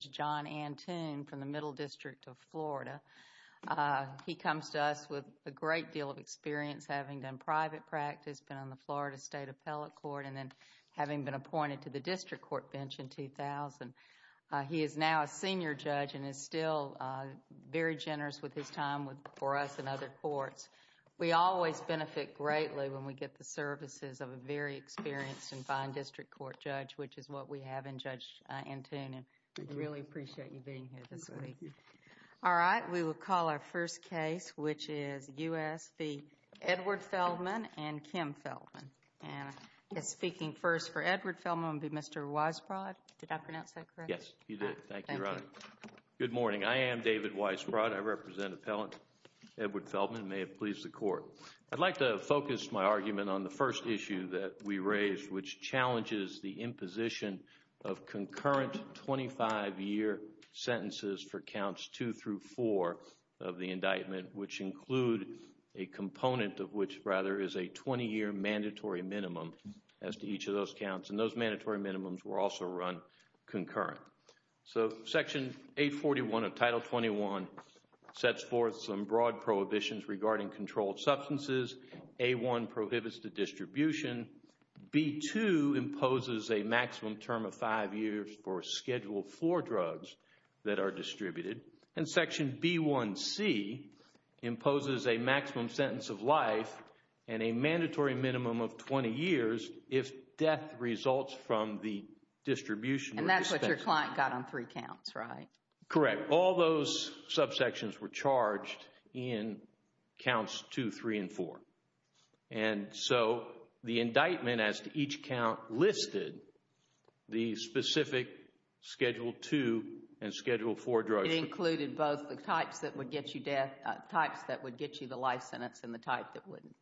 John Antoon from the Middle District of Florida. He comes to us with a great deal of experience, having done private practice, been on the Florida State Appellate Court, and then having been appointed to the District Court bench in 2000. He is now a senior judge and is still very generous with his time for us and other courts. We always benefit greatly when we get the services of a very experienced and fine District Court judge, which is what we have in Judge Antoon, and we really appreciate you being here this week. Thank you. All right. We will call our first case, which is U.S. v. Edward Feldman and Kim Feldman. And speaking first for Edward Feldman would be Mr. Weisbrod. Did I pronounce that correctly? Yes, you did. Thank you, Your Honor. Thank you. Good morning. I am David Weisbrod. I represent Appellant Edward Feldman, and may it please the Court, I'd like to focus my argument on the first issue that we raised, which challenges the imposition of concurrent 25-year sentences for Counts 2 through 4 of the indictment, which include a component of which, rather, is a 20-year mandatory minimum as to each of those counts, and those mandatory minimums were also run concurrent. So Section 841 of Title 21 sets forth some broad prohibitions regarding controlled substances. A1 prohibits the distribution. B2 imposes a maximum term of five years for Schedule IV drugs that are distributed. And Section B1c imposes a maximum sentence of life and a mandatory minimum of 20 years if death results from the distribution or dispensation. And that's what your client got on three counts, right? Correct. All those subsections were charged in Counts 2, 3, and 4. And so the indictment as to each count listed the specific Schedule II and Schedule IV drugs. It included both the types that would get you death, types that would get you the life sentence, and the type that wouldn't.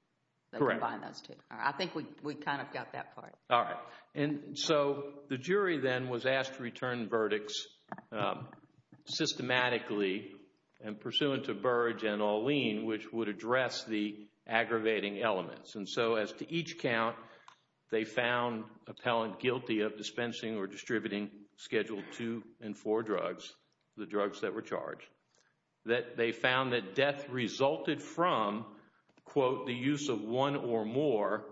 Correct. So combine those two. I think we kind of got that part. All right. And so the jury then was asked to return verdicts systematically and pursuant to Burrage and Alleen which would address the aggravating elements. And so as to each count, they found appellant guilty of dispensing or distributing Schedule II and IV drugs, the drugs that were charged. They found that death resulted from, quote, the use of one or more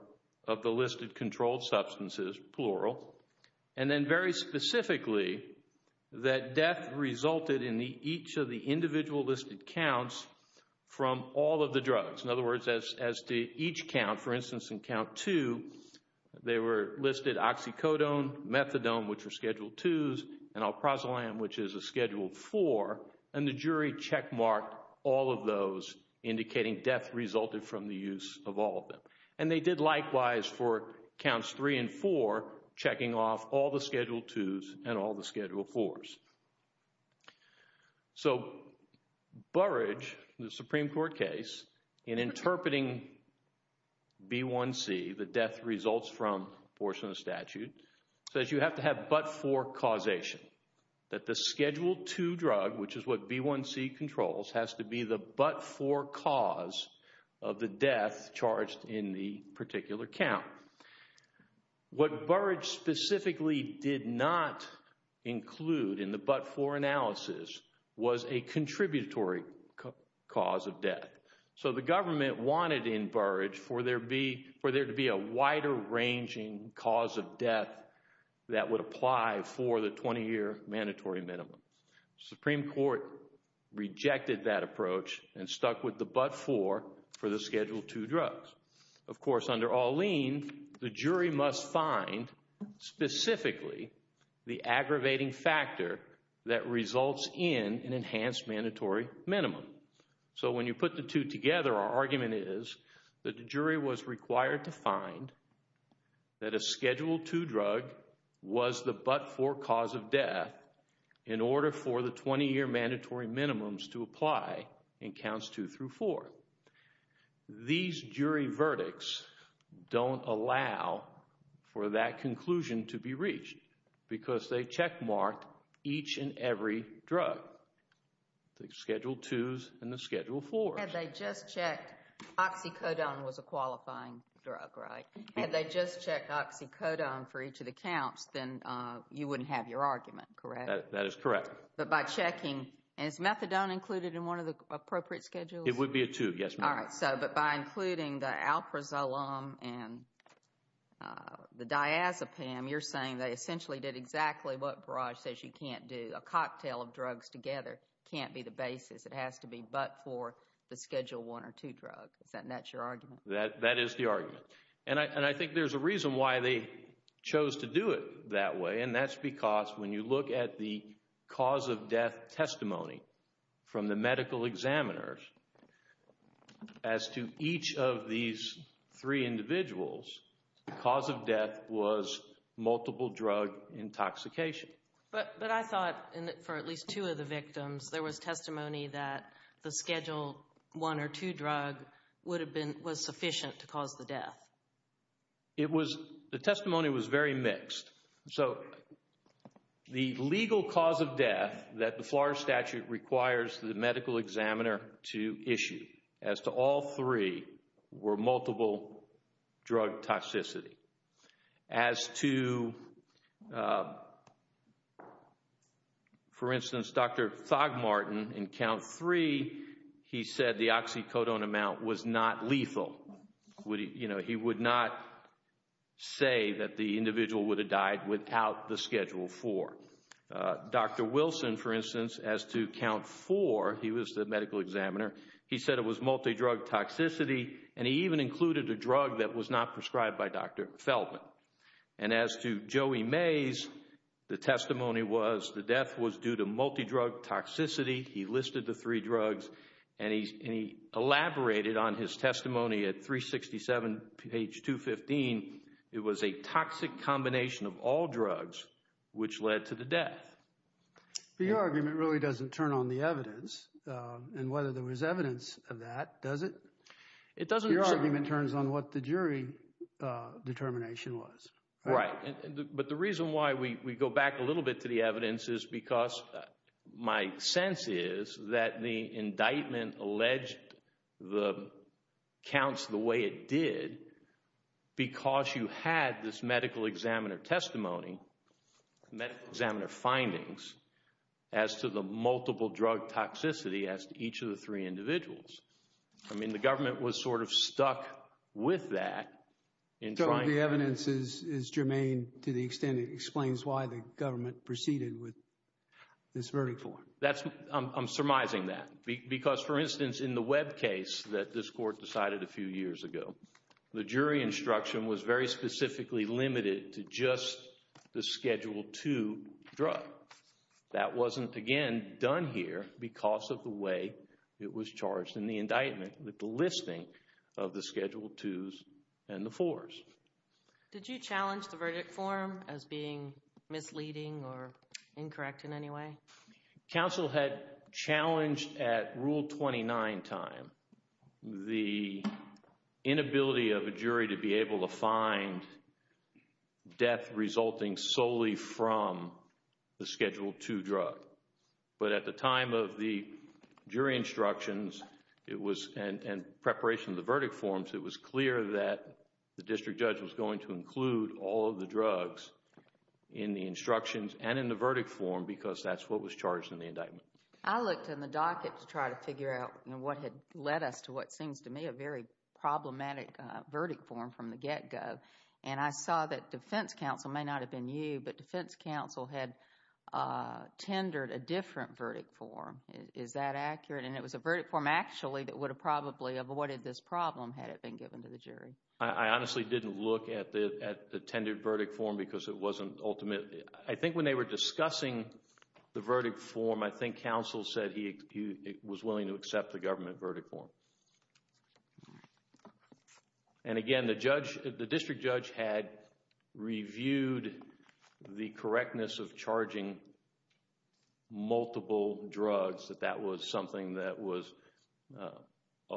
of the listed controlled substances, plural. And then very specifically, that death resulted in each of the individual listed counts from all of the drugs. In other words, as to each count, for instance in Count 2, they were listed oxycodone, methadone, which were Schedule IIs, and alprazolam, which is a Schedule IV. And the jury checkmarked all of those indicating death resulted from the use of all of them. And they did likewise for Counts 3 and 4, checking off all the Schedule IIs and all the Schedule IVs. So Burrage, the Supreme Court case, in interpreting B1c, the death results from portion of the statute, says you have to have but-for causation. That the Schedule II drug, which is what B1c controls, has to be the but-for cause of the death charged in the particular count. What Burrage specifically did not include in the but-for analysis was a contributory cause of death. So the government wanted in Burrage for there to be a wider ranging cause of death that would apply for the 20-year mandatory minimum. Supreme Court rejected that approach and stuck with the but-for for the Schedule II drugs. Of course, under Alleen, the jury must find specifically the aggravating factor that results in an enhanced mandatory minimum. So when you put the two together, our argument is that the jury was required to find that the Schedule II drug was the but-for cause of death in order for the 20-year mandatory minimums to apply in counts two through four. These jury verdicts don't allow for that conclusion to be reached because they checkmark each and every drug, the Schedule IIs and the Schedule IVs. Had they just checked oxycodone was a qualifying drug, right? Had they just checked oxycodone for each of the counts, then you wouldn't have your argument, correct? That is correct. But by checking, is methadone included in one of the appropriate Schedules? It would be a two, yes ma'am. All right, so but by including the alprazolam and the diazepam, you're saying they essentially did exactly what Burrage says you can't do. A cocktail of drugs together can't be the basis. It has to be but-for the Schedule I or II drug, isn't that your argument? That is the argument. And I think there's a reason why they chose to do it that way and that's because when you look at the cause of death testimony from the medical examiners as to each of these three individuals, the cause of death was multiple drug intoxication. But I thought for at least two of the victims, there was testimony that the Schedule I or II drug would have been-was sufficient to cause the death. It was-the testimony was very mixed. So the legal cause of death that the Flores Statute requires the medical examiner to issue as to all three were multiple drug toxicity. As to, for instance, Dr. Thogmorton in Count III, he said the oxycodone amount was not lethal. You know, he would not say that the individual would have died without the Schedule IV. Dr. Wilson, for instance, as to Count IV, he was the medical examiner, he said it was Dr. Feldman. And as to Joey Mays, the testimony was the death was due to multi-drug toxicity. He listed the three drugs and he elaborated on his testimony at 367 page 215. It was a toxic combination of all drugs, which led to the death. But your argument really doesn't turn on the evidence and whether there was evidence of that, does it? Your argument turns on what the jury determination was. Right. But the reason why we go back a little bit to the evidence is because my sense is that the indictment alleged the counts the way it did because you had this medical examiner testimony, medical examiner findings, as to the multiple drug toxicity as to each of the three individuals. I mean, the government was sort of stuck with that. So the evidence is germane to the extent it explains why the government proceeded with this verdict. I'm surmising that because, for instance, in the Webb case that this court decided a few years ago, the jury instruction was very specifically limited to just the Schedule II drug. That wasn't, again, done here because of the way it was charged in the indictment with the listing of the Schedule IIs and the IVs. Did you challenge the verdict form as being misleading or incorrect in any way? Counsel had challenged at Rule 29 time the inability of a jury to be able to find death resulting solely from the Schedule II drug. But at the time of the jury instructions and preparation of the verdict forms, it was clear that the district judge was going to include all of the drugs in the instructions and in the verdict form because that's what was charged in the indictment. I looked in the docket to try to figure out what had led us to what seems to me a very problematic verdict form from the get-go. And I saw that defense counsel, it may not have been you, but defense counsel had tendered a different verdict form. Is that accurate? And it was a verdict form actually that would have probably avoided this problem had it been given to the jury. I honestly didn't look at the tendered verdict form because it wasn't ultimate. I think when they were discussing the verdict form, I think counsel said he was willing to accept the government verdict form. And again, the judge, the district judge had reviewed the correctness of charging multiple drugs that that was something that was obvious.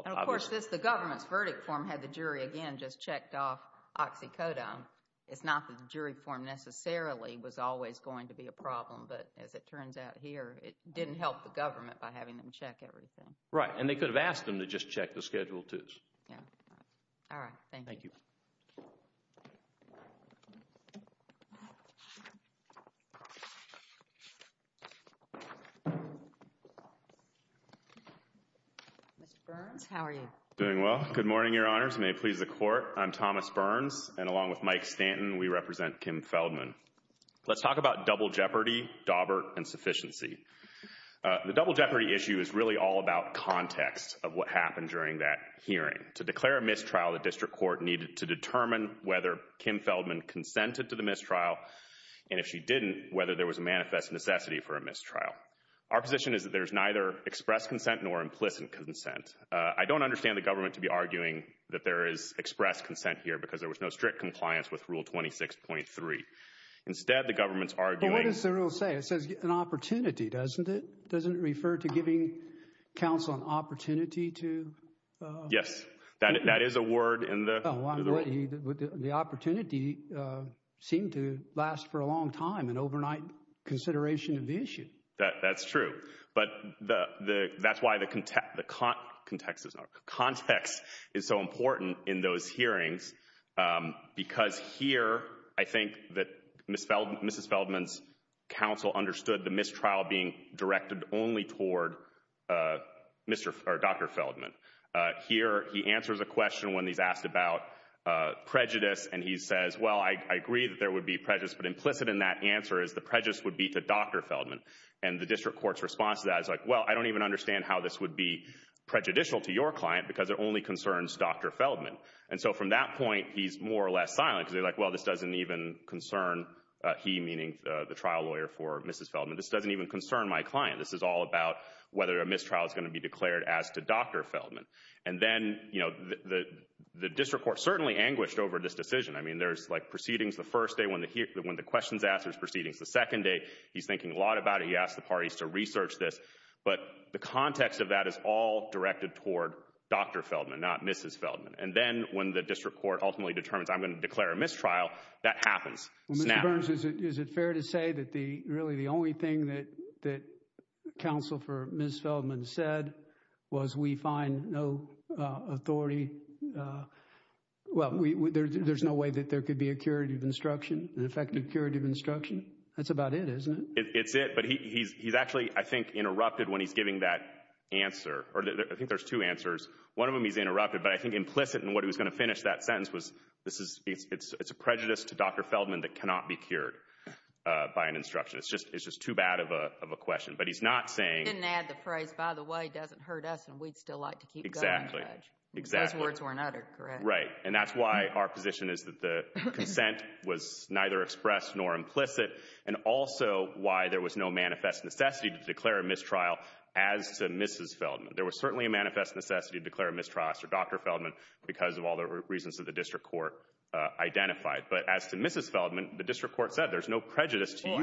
And of course, the government's verdict form had the jury again just checked off oxycodone. It's not that the jury form necessarily was always going to be a problem, but as it turns out here, it didn't help the government by having them check everything. Right. And they could have asked them to just check the Schedule IIs. Yeah. All right. Thank you. Thank you. Mr. Burns, how are you? Doing well. Good morning, Your Honors. May it please the Court. I'm Thomas Burns, and along with Mike Stanton, we represent Kim Feldman. Let's talk about double jeopardy, Dawbert, and sufficiency. The double jeopardy issue is really all about context of what happened during that hearing. To declare a mistrial, the district court needed to determine whether Kim Feldman consented to the mistrial. And if she didn't, whether there was a manifest necessity for a mistrial. Our position is that there's neither express consent nor implicit consent. I don't understand the government to be arguing that there is express consent here because there was no strict compliance with Rule 26.3. Instead, the government's arguing— But what does the rule say? It says an opportunity, doesn't it? Doesn't it refer to giving counsel an opportunity to— Yes. That is a word in the— The opportunity seemed to last for a long time, an overnight consideration of the issue. That's true. But that's why the context is so important in those hearings because here, I think that the district court understood the mistrial being directed only toward Dr. Feldman. Here he answers a question when he's asked about prejudice and he says, well, I agree that there would be prejudice, but implicit in that answer is the prejudice would be to Dr. Feldman. And the district court's response to that is like, well, I don't even understand how this would be prejudicial to your client because it only concerns Dr. Feldman. And so from that point, he's more or less silent because he's like, well, this doesn't even concern he, meaning the trial lawyer for Mrs. Feldman, this doesn't even concern my client. This is all about whether a mistrial is going to be declared as to Dr. Feldman. And then, you know, the district court certainly anguished over this decision. I mean, there's like proceedings the first day when the questions asked, there's proceedings the second day. He's thinking a lot about it. He asked the parties to research this. But the context of that is all directed toward Dr. Feldman, not Mrs. Feldman. And then when the district court ultimately determines I'm going to declare a mistrial, Well, Mr. Burns, is it fair to say that the really the only thing that that counsel for Mrs. Feldman said was we find no authority, well, there's no way that there could be a curative instruction, an effective curative instruction. That's about it, isn't it? It's it. But he's actually, I think, interrupted when he's giving that answer, or I think there's two answers. One of them he's interrupted, but I think implicit in what he was going to finish that sentence was this is it's a prejudice to Dr. Feldman that cannot be cured by an instruction. It's just it's just too bad of a question. But he's not saying. He didn't add the phrase, by the way, doesn't hurt us and we'd still like to keep going. Exactly. Exactly. Those words weren't uttered, correct? Right. And that's why our position is that the consent was neither expressed nor implicit and also why there was no manifest necessity to declare a mistrial as to Mrs. Feldman. There was certainly a manifest necessity to declare a mistrial as to Dr. Feldman because of all the reasons that the district court identified. But as to Mrs. Feldman, the district court said there's no prejudice to you.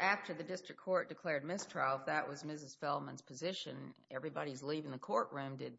After the district court declared mistrial, if that was Mrs. Feldman's position, everybody's leaving the courtroom. Did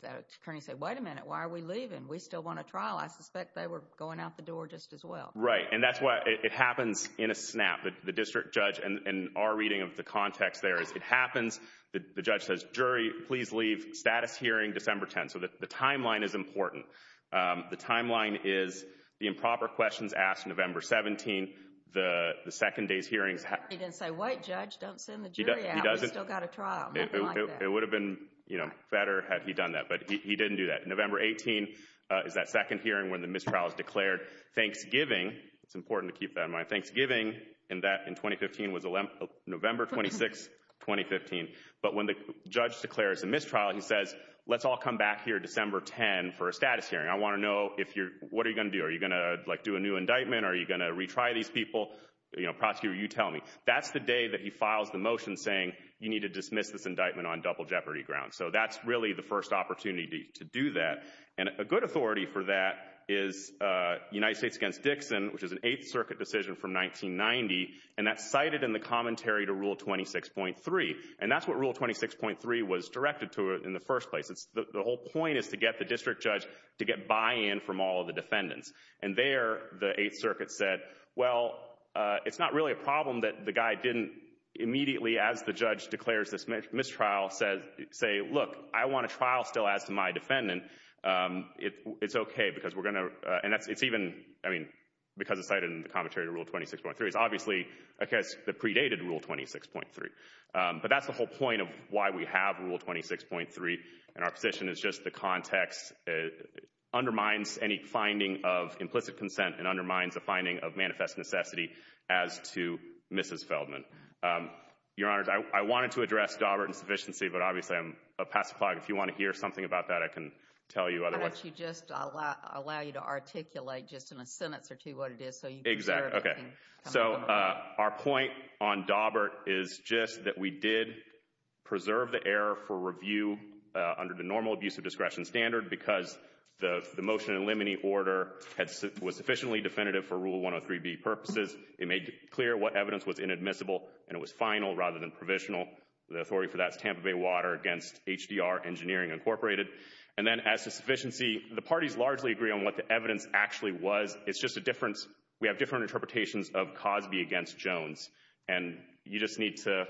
Kearney say, wait a minute, why are we leaving? We still want a trial. I suspect they were going out the door just as well. Right. And that's why it happens in a snap. The district judge and our reading of the context there is it happens. The judge says, jury, please leave. Status hearing December 10th. So the timeline is important. The timeline is the improper questions asked November 17th. The second day's hearings. He didn't say, wait, judge, don't send the jury out, we've still got a trial, nothing like that. It would have been better had he done that. But he didn't do that. November 18th is that second hearing when the mistrial is declared. Thanksgiving, it's important to keep that in mind, Thanksgiving in 2015 was November 26th, 2015. But when the judge declares a mistrial, he says, let's all come back here December 10 for a status hearing. I want to know if you're, what are you going to do? Are you going to like do a new indictment? Are you going to retry these people? You know, prosecutor, you tell me. That's the day that he files the motion saying you need to dismiss this indictment on double jeopardy grounds. So that's really the first opportunity to do that. And a good authority for that is United States against Dixon, which is an Eighth Circuit decision from 1990. And that's cited in the commentary to Rule 26.3. And that's what Rule 26.3 was directed to in the first place. The whole point is to get the district judge to get buy-in from all of the defendants. And there the Eighth Circuit said, well, it's not really a problem that the guy didn't immediately as the judge declares this mistrial say, look, I want a trial still as to my defendant. It's okay because we're going to, and that's, it's even, I mean, because it's cited in the commentary, I guess, the predated Rule 26.3. But that's the whole point of why we have Rule 26.3. And our position is just the context undermines any finding of implicit consent and undermines the finding of manifest necessity as to Mrs. Feldman. Your Honor, I wanted to address Dobbert insufficiency, but obviously I'm a pacifist. If you want to hear something about that, I can tell you otherwise. Why don't you just allow, allow you to articulate just in a sentence or two what it is so you can clarify. Okay. So our point on Dobbert is just that we did preserve the error for review under the normal abuse of discretion standard because the motion in limine order was sufficiently definitive for Rule 103b purposes. It made clear what evidence was inadmissible and it was final rather than provisional. The authority for that is Tampa Bay Water against HDR Engineering Incorporated. And then as to sufficiency, the parties largely agree on what the evidence actually was. It's just a difference. We have different interpretations of Cosby against Jones. And you just need to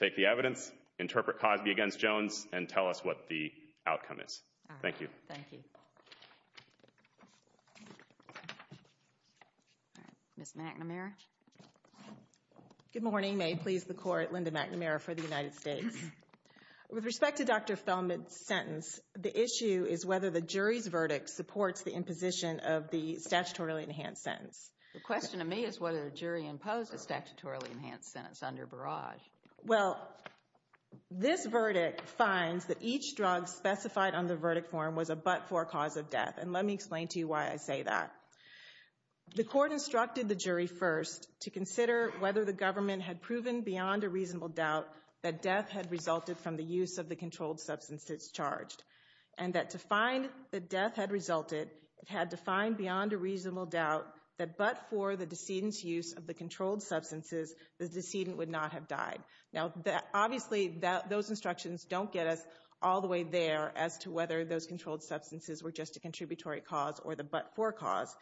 take the evidence, interpret Cosby against Jones, and tell us what the outcome is. All right. Thank you. Thank you. All right. Ms. McNamara. Good morning. May it please the Court, Linda McNamara for the United States. With respect to Dr. Feldman's sentence, the issue is whether the jury's verdict supports the imposition of the statutorily enhanced sentence. The question to me is whether the jury imposed a statutorily enhanced sentence under Barrage. Well, this verdict finds that each drug specified on the verdict form was a but-for cause of death. And let me explain to you why I say that. The Court instructed the jury first to consider whether the government had proven beyond a reasonable doubt that death had resulted from the use of the controlled substance it's charged and that to find that death had resulted, it had to find beyond a reasonable doubt that but-for the decedent's use of the controlled substances, the decedent would not have died. Now, obviously, those instructions don't get us all the way there as to whether those controlled substances were just a contributory cause or the but-for cause.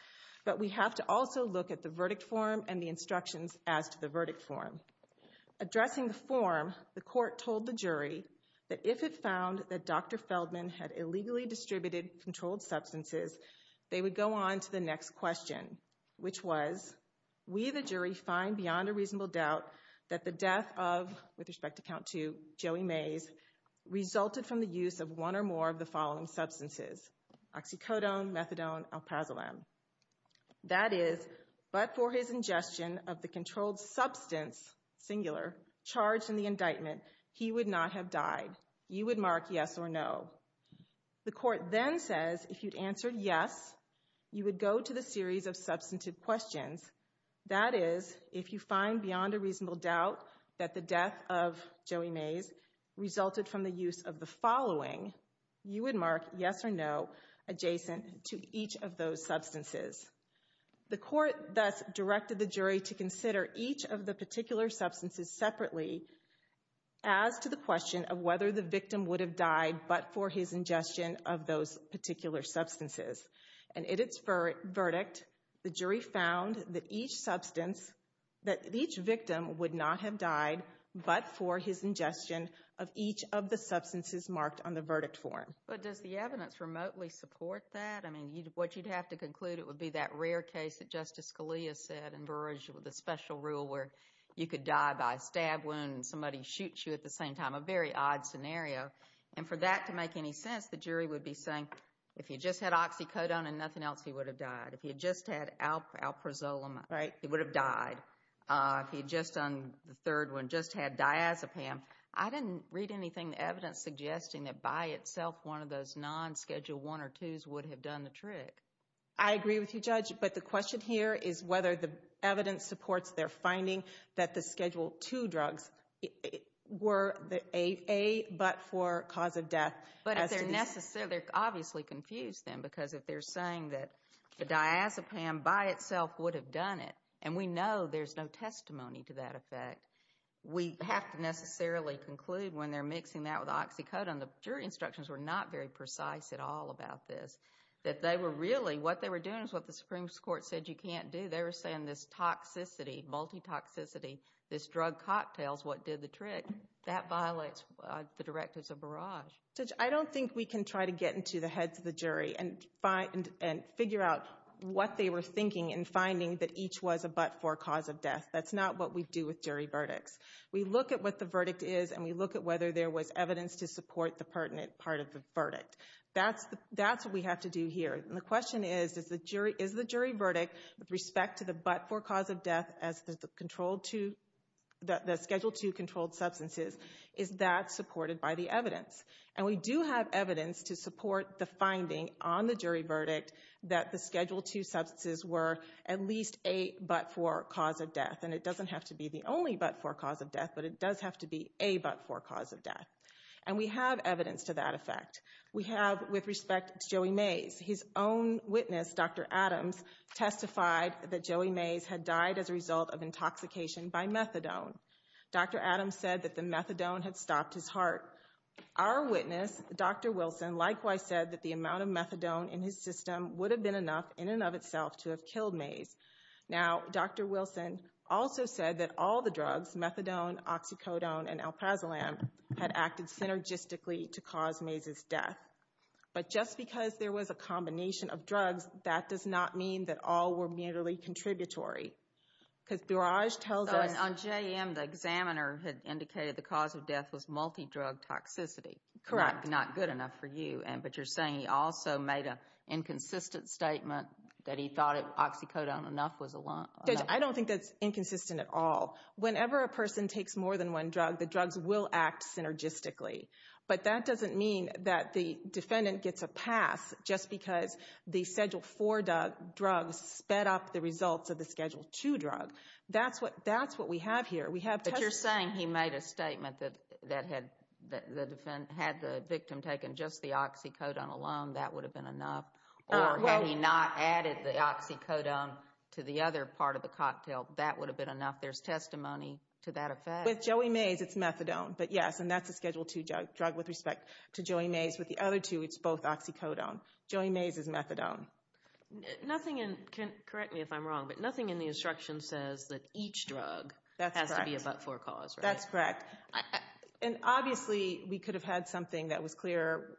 But we have to also look at the verdict form and the instructions as to the verdict form. Addressing the form, the Court told the jury that if it found that Dr. Feldman had illegally distributed controlled substances, they would go on to the next question, which was, we the jury find beyond a reasonable doubt that the death of, with respect to count two, Joey Mays, resulted from the use of one or more of the following substances, oxycodone, methadone, alprazolam. That is, but for his ingestion of the controlled substance, singular, charged in the indictment, he would not have died. You would mark yes or no. The Court then says if you'd answered yes, you would go to the series of substantive questions. That is, if you find beyond a reasonable doubt that the death of Joey Mays resulted from the use of the following, you would mark yes or no adjacent to each of those substances. The Court thus directed the jury to consider each of the particular substances separately as to the question of whether the victim would have died but for his ingestion of those particular substances. And in its verdict, the jury found that each victim would not have died but for his ingestion of each of the substances marked on the verdict form. But does the evidence remotely support that? I mean, what you'd have to conclude, it would be that rare case that Justice Scalia said in Burrage with the special rule where you could die by a stab wound and somebody shoots you at the same time, a very odd scenario. And for that to make any sense, the jury would be saying, if he just had oxycodone and nothing else, he would have died. If he had just had alprazolam, he would have died. If he had just done the third one, just had diazepam. I didn't read anything in the evidence suggesting that by itself, one of those non-Schedule 1 or 2s would have done the trick. I agree with you, Judge, but the question here is whether the evidence supports their finding that the Schedule 2 drugs were a but for cause of death. But if they're necessarily, they're obviously confused then because if they're saying that the diazepam by itself would have done it, and we know there's no testimony to that effect, we have to necessarily conclude when they're mixing that with oxycodone, the jury instructions were not very precise at all about this. That they were really, what they were doing is what the Supreme Court said you can't do. They were saying this toxicity, multi-toxicity, this drug cocktail is what did the trick. That violates the directives of Burrage. Judge, I don't think we can try to get into the heads of the jury and figure out what they were thinking in finding that each was a but for cause of death. That's not what we do with jury verdicts. We look at what the verdict is and we look at whether there was evidence to support the pertinent part of the verdict. That's what we have to do here. And the question is, is the jury verdict, with respect to the but for cause of death as the Schedule 2 controlled substances, is that supported by the evidence? And we do have evidence to support the finding on the jury verdict that the Schedule 2 substances were at least a but for cause of death. And it doesn't have to be the only but for cause of death, but it does have to be a but for cause of death. And we have evidence to that effect. We have, with respect to Joey Mays, his own witness, Dr. Adams, testified that Joey Mays had died as a result of intoxication by methadone. Dr. Adams said that the methadone had stopped his heart. Our witness, Dr. Wilson, likewise said that the amount of methadone in his system would have been enough, in and of itself, to have killed Mays. Now Dr. Wilson also said that all the drugs, methadone, oxycodone, and alprazolam, had acted synergistically to cause Mays' death. But just because there was a combination of drugs, that does not mean that all were mutually contributory. Because Barrage tells us... On JM, the examiner had indicated the cause of death was multi-drug toxicity. Correct. But that's not good enough for you. But you're saying he also made an inconsistent statement that he thought oxycodone enough was enough? Judge, I don't think that's inconsistent at all. Whenever a person takes more than one drug, the drugs will act synergistically. But that doesn't mean that the defendant gets a pass just because the Schedule IV drug sped up the results of the Schedule II drug. That's what we have here. We have... But you're saying he made a statement that had the victim taken just the oxycodone alone, that would have been enough? Or had he not added the oxycodone to the other part of the cocktail, that would have been enough? There's testimony to that effect? With Joey Mays, it's methadone, but yes, and that's a Schedule II drug with respect to Joey Mays. With the other two, it's both oxycodone. Joey Mays is methadone. Nothing in... Correct me if I'm wrong, but nothing in the instruction says that each drug has to be a but-for cause, right? That's correct. And obviously, we could have had something that was clear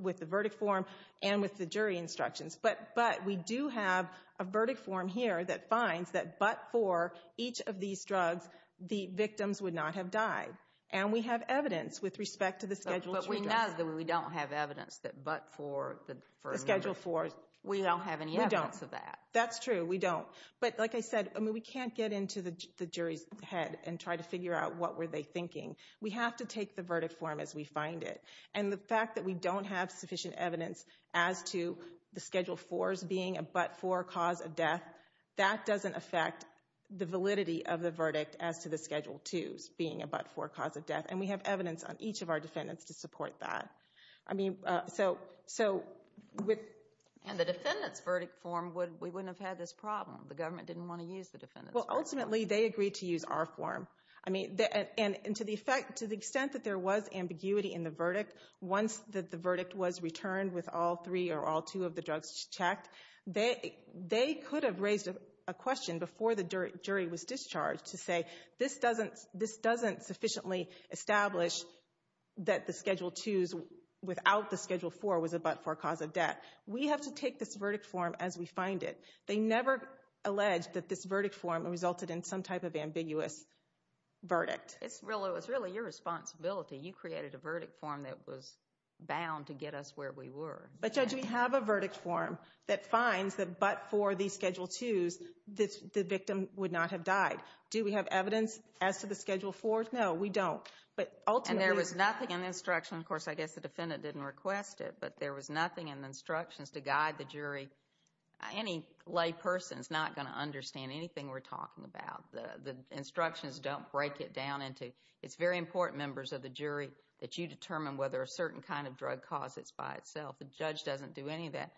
with the verdict form and with the jury instructions, but we do have a verdict form here that finds that but-for each of these drugs, the victims would not have died. And we have evidence with respect to the Schedule II drugs. But we know that we don't have evidence that but-for the Schedule IV. We don't have any evidence of that. That's true. We don't. But like I said, we can't get into the jury's head and try to figure out what were they thinking. We have to take the verdict form as we find it. And the fact that we don't have sufficient evidence as to the Schedule IVs being a but-for cause of death, that doesn't affect the validity of the verdict as to the Schedule IIs being a but-for cause of death. And we have evidence on each of our defendants to support that. I mean, so... And the defendant's verdict form, we wouldn't have had this problem. The government didn't want to use the defendant's form. Well, ultimately, they agreed to use our form. I mean, and to the extent that there was ambiguity in the verdict, once the verdict was returned with all three or all two of the drugs checked, they could have raised a question before the jury was discharged to say, this doesn't sufficiently establish that the Schedule IIs without the Schedule IV was a but-for cause of death. We have to take this verdict form as we find it. They never alleged that this verdict form resulted in some type of ambiguous verdict. It's really your responsibility. You created a verdict form that was bound to get us where we were. But Judge, we have a verdict form that finds that but-for the Schedule IIs, the victim would not have died. Do we have evidence as to the Schedule IVs? No, we don't. But ultimately... And there was nothing in the instruction. Of course, I guess the defendant didn't request it, but there was nothing in the instructions to guide the jury. Any lay person is not going to understand anything we're talking about. The instructions don't break it down into... It's very important, members of the jury, that you determine whether a certain kind of drug cause, it's by itself. The judge doesn't do any of that.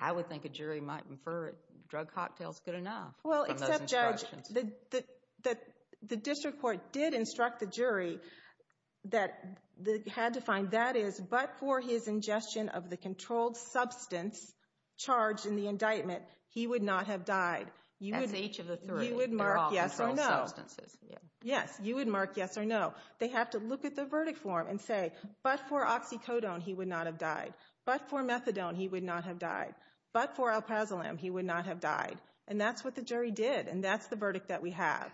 I would think a jury might infer drug cocktail's good enough from those instructions. The district court did instruct the jury that they had to find that is but-for his ingestion of the controlled substance charged in the indictment, he would not have died. You would... That's each of the three. They're all controlled substances. Yes, you would mark yes or no. They have to look at the verdict form and say but-for oxycodone, he would not have died. But-for methadone, he would not have died. But-for alpazolam, he would not have died. And that's what the jury did. And that's the verdict that we have.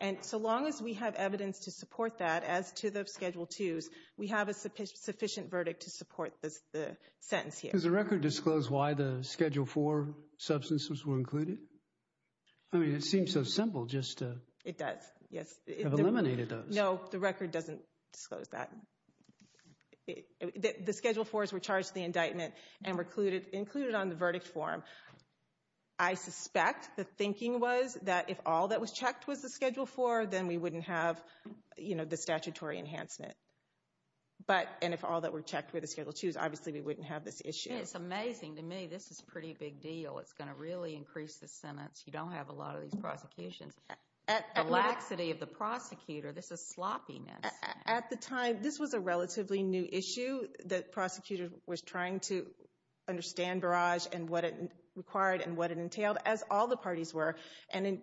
And so long as we have evidence to support that, as to the Schedule IIs, we have a sufficient verdict to support the sentence here. Does the record disclose why the Schedule IV substances were included? I mean, it seems so simple just to... It does, yes. ...have eliminated those. No, the record doesn't disclose that. The Schedule IVs were charged in the indictment and included on the verdict form. I suspect the thinking was that if all that was checked was the Schedule IV, then we wouldn't have, you know, the statutory enhancement. But... And if all that were checked were the Schedule IIs, obviously, we wouldn't have this issue. It's amazing to me. This is a pretty big deal. It's going to really increase the sentence. You don't have a lot of these prosecutions. At the laxity of the prosecutor, this is sloppiness. At the time, this was a relatively new issue. The prosecutor was trying to understand barrage and what it required and what it entailed, as all the parties were. And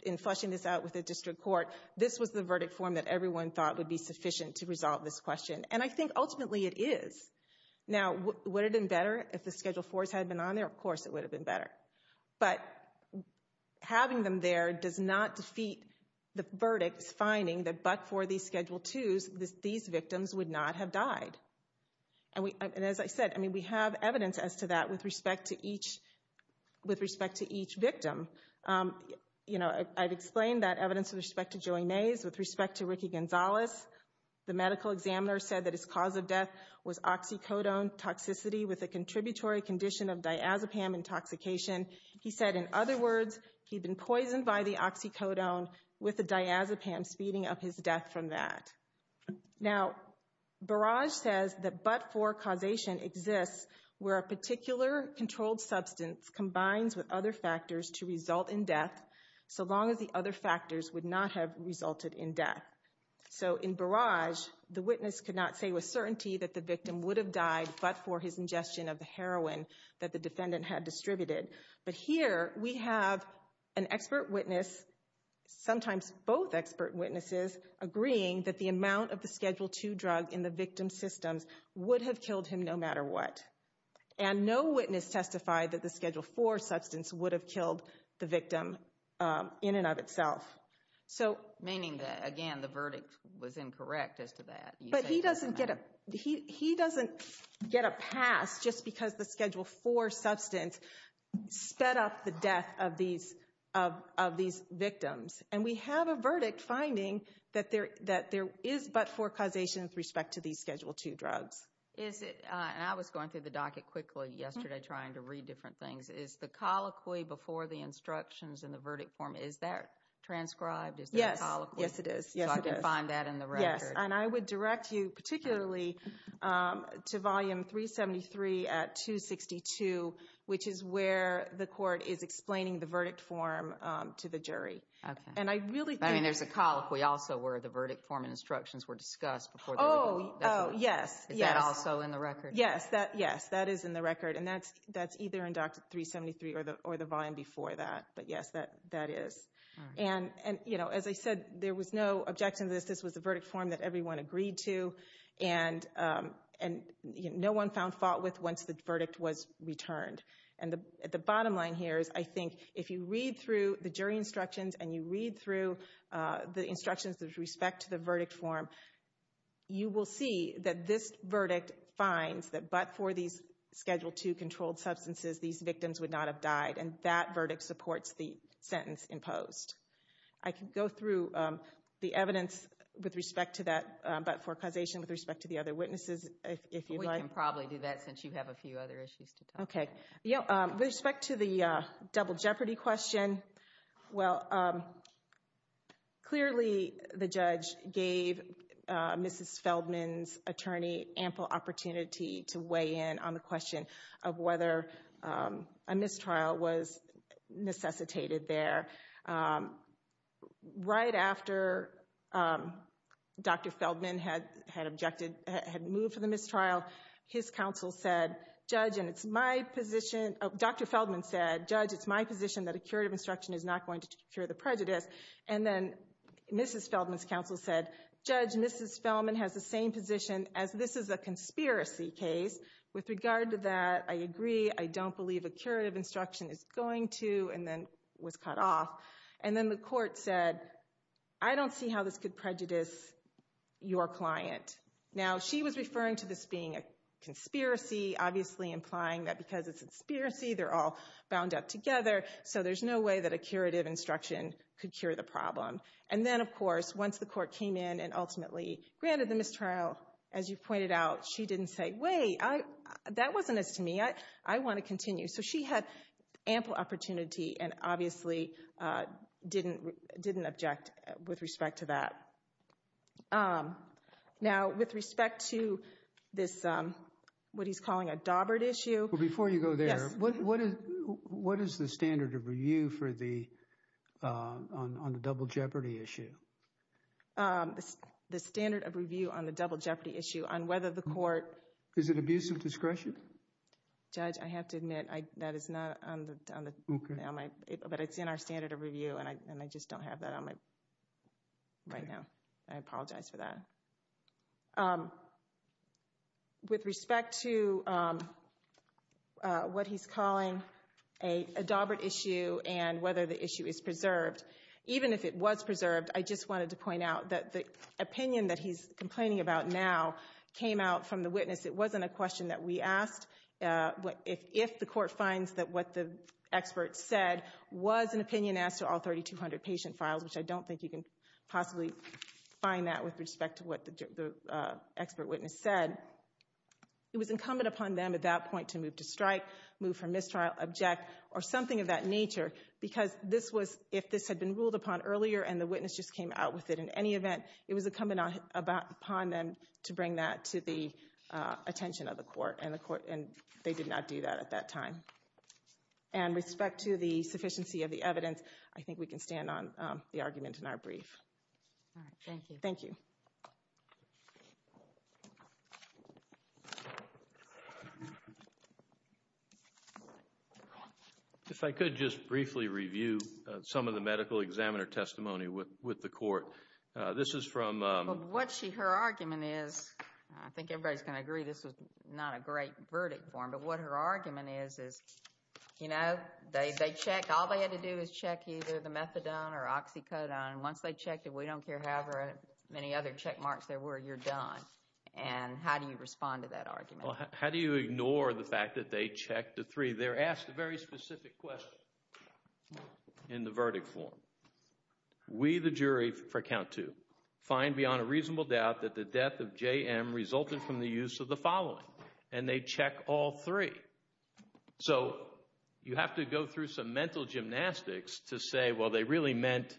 in fleshing this out with the district court, this was the verdict form that everyone thought would be sufficient to resolve this question. And I think, ultimately, it is. Now, would it have been better if the Schedule IVs had been on there? Of course, it would have been better. But having them there does not defeat the verdicts finding that but for these Schedule Victims would not have died. And as I said, we have evidence as to that with respect to each victim. I've explained that evidence with respect to Joey Mays, with respect to Ricky Gonzalez. The medical examiner said that his cause of death was oxycodone toxicity with a contributory condition of diazepam intoxication. He said, in other words, he'd been poisoned by the oxycodone with the diazepam speeding up his death from that. Now, Barrage says that but for causation exists where a particular controlled substance combines with other factors to result in death, so long as the other factors would not have resulted in death. So in Barrage, the witness could not say with certainty that the victim would have died but for his ingestion of the heroin that the defendant had distributed. But here we have an expert witness, sometimes both expert witnesses, agreeing that the amount of the Schedule II drug in the victim's systems would have killed him no matter what. And no witness testified that the Schedule IV substance would have killed the victim in and of itself. Meaning that, again, the verdict was incorrect as to that. But he doesn't get a pass just because the Schedule IV substance sped up the death of these victims. And we have a verdict finding that there is but for causation with respect to these Schedule II drugs. And I was going through the docket quickly yesterday trying to read different things. Is the colloquy before the instructions in the verdict form, is that transcribed? Is there a colloquy? Yes, it is. So I can find that in the record. Yes, and I would direct you particularly to Volume 373 at 262, which is where the court is explaining the verdict form to the jury. Okay. And I really think... I mean, there's a colloquy also where the verdict form and instructions were discussed before the legal... Oh, yes, yes. Is that also in the record? Yes, that is in the record. And that's either in Doctrine 373 or the volume before that. But yes, that is. And, you know, as I said, there was no objection to this. This was the verdict form that everyone agreed to, and no one found fault with once the verdict was returned. And the bottom line here is I think if you read through the jury instructions and you read through the instructions with respect to the verdict form, you will see that this verdict finds that but for these Schedule II controlled substances, these victims would not have died. And that verdict supports the sentence imposed. I can go through the evidence with respect to that but for causation with respect to the other witnesses if you'd like. We can probably do that since you have a few other issues to talk about. Okay. With respect to the double jeopardy question, well, clearly the judge gave Mrs. Feldman's attorney ample opportunity to weigh in on the question of whether a mistrial was necessitated there. Right after Dr. Feldman had objected, had moved for the mistrial, his counsel said, Judge, and it's my position, Dr. Feldman said, Judge, it's my position that a curative instruction is not going to cure the prejudice. And then Mrs. Feldman's counsel said, Judge, Mrs. Feldman has the same position as this is a conspiracy case. With regard to that, I agree. I don't believe a curative instruction is going to and then was cut off. And then the court said, I don't see how this could prejudice your client. Now, she was referring to this being a conspiracy, obviously implying that because it's a conspiracy, they're all bound up together, so there's no way that a curative instruction could cure the problem. And then, of course, once the court came in and ultimately granted the mistrial, as you pointed out, she didn't say, Wait, that wasn't as to me. I want to continue. So she had ample opportunity and obviously didn't object with respect to that. Now, with respect to this, what he's calling a daubered issue. Before you go there, what is the standard of review on the double jeopardy issue? The standard of review on the double jeopardy issue on whether the court. Is it abuse of discretion? Judge, I have to admit that is not on the, but it's in our standard of review, and I just don't have that on my right now. I apologize for that. With respect to what he's calling a daubered issue and whether the issue is preserved, even if it was preserved, I just wanted to point out that the opinion that he's complaining about now came out from the witness. It wasn't a question that we asked. If the court finds that what the expert said was an opinion as to all 3,200 patient files, which I don't think you can possibly find that with respect to what the expert witness said, it was incumbent upon them at that point to move to strike, move for mistrial, object, or something of that nature because this was, if this had been ruled upon earlier and the witness just came out with it in any event, it was incumbent upon them to bring that to the attention of the court, and they did not do that at that time. And with respect to the sufficiency of the evidence, I think we can stand on the argument in our brief. Thank you. Thank you. If I could just briefly review some of the medical examiner testimony with the court. This is from… What her argument is, I think everybody's going to agree this is not a great verdict form, but what her argument is, is, you know, they check. All they had to do is check either the methadone or oxycodone. Once they checked it, we don't care how many other check marks there were, you're done. And how do you respond to that argument? How do you ignore the fact that they checked the 3? They're asked a very specific question in the verdict form. We, the jury, for count 2, find beyond a reasonable doubt that the death of J.M. resulted from the use of the following, and they check all 3. So you have to go through some mental gymnastics to say, well, they really meant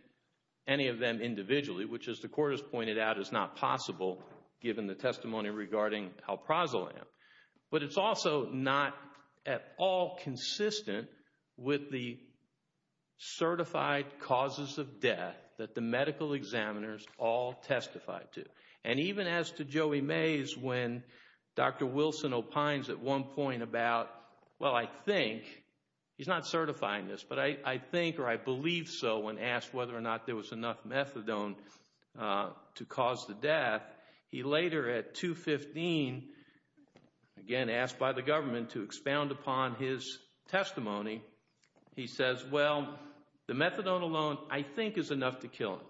any of them individually, which, as the court has pointed out, is not possible given the testimony regarding Halprazolam. But it's also not at all consistent with the certified causes of death that the medical examiners all testified to. And even as to Joey Mays, when Dr. Wilson opines at one point about, well, I think, he's not certifying this, but I think or I believe so when asked whether or not there was enough methadone to cause the death, he later at 2.15, again asked by the government to expound upon his testimony, he says, well, the methadone alone, I think, is enough to kill him.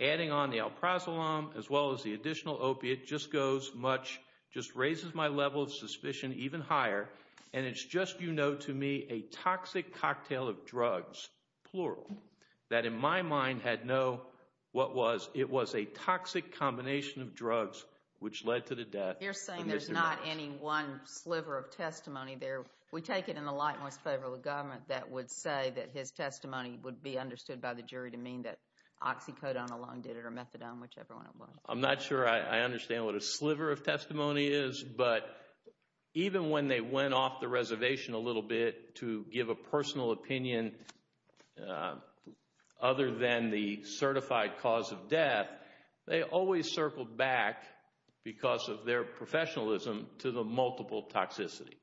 Adding on the Halprazolam as well as the additional opiate just goes much, just raises my level of suspicion even higher, and it's just, you know to me, a toxic cocktail of drugs, plural, that in my mind had no what was. It was a toxic combination of drugs which led to the death. You're saying there's not any one sliver of testimony there. We take it in the light and what's in favor of the government that would say that his testimony would be understood by the jury to mean that oxycodone alone did it or methadone, whichever one it was. I'm not sure I understand what a sliver of testimony is, but even when they went off the reservation a little bit to give a personal opinion other than the certified cause of death, they always circled back because of their professionalism to the multiple toxicity,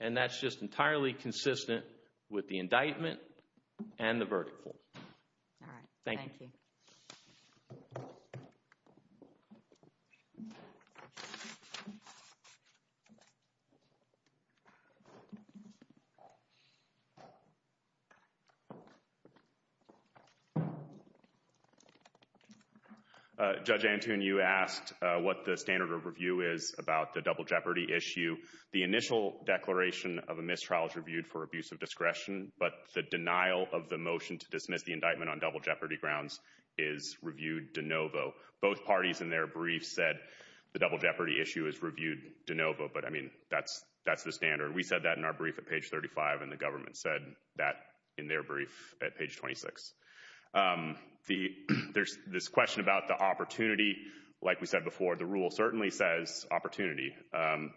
and that's just entirely consistent with the indictment and the verdict form. All right. Thank you. Judge Antoon, you asked what the standard of review is about the double jeopardy issue. The initial declaration of a mistrial is reviewed for abuse of discretion, but the denial of the motion to dismiss the indictment on double jeopardy grounds is reviewed de novo. Both parties in their brief said the double jeopardy issue is reviewed de novo, but, I mean, that's the standard. We said that in our brief at page 35, and the government said that in their brief at page 26. There's this question about the opportunity. Like we said before, the rule certainly says opportunity,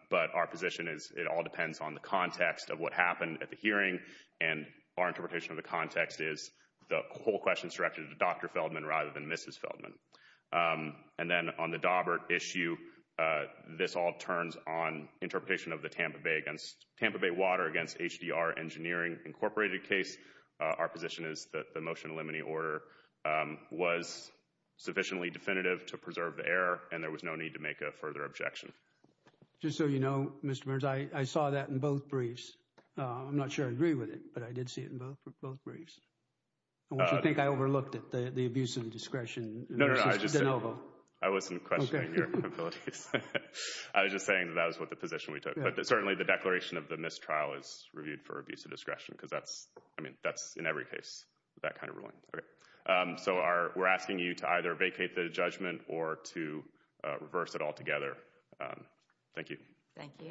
but our position is it all depends on the context of what happened at the hearing, and our interpretation of the context is the whole question is directed to Dr. Feldman rather than Mrs. Feldman. And then on the Daubert issue, this all turns on interpretation of the Tampa Bay Water against HDR Engineering Incorporated case. Our position is that the motion to eliminate the order was sufficiently definitive to preserve the error, and there was no need to make a further objection. Just so you know, Mr. Burns, I saw that in both briefs. I'm not sure I agree with it, but I did see it in both briefs. I want you to think I overlooked it, the abuse of discretion. No, no, I wasn't questioning your abilities. I was just saying that that was the position we took. But certainly the declaration of the mistrial is reviewed for abuse of discretion because that's in every case, that kind of ruling. So we're asking you to either vacate the judgment or to reverse it altogether. Thank you. Thank you.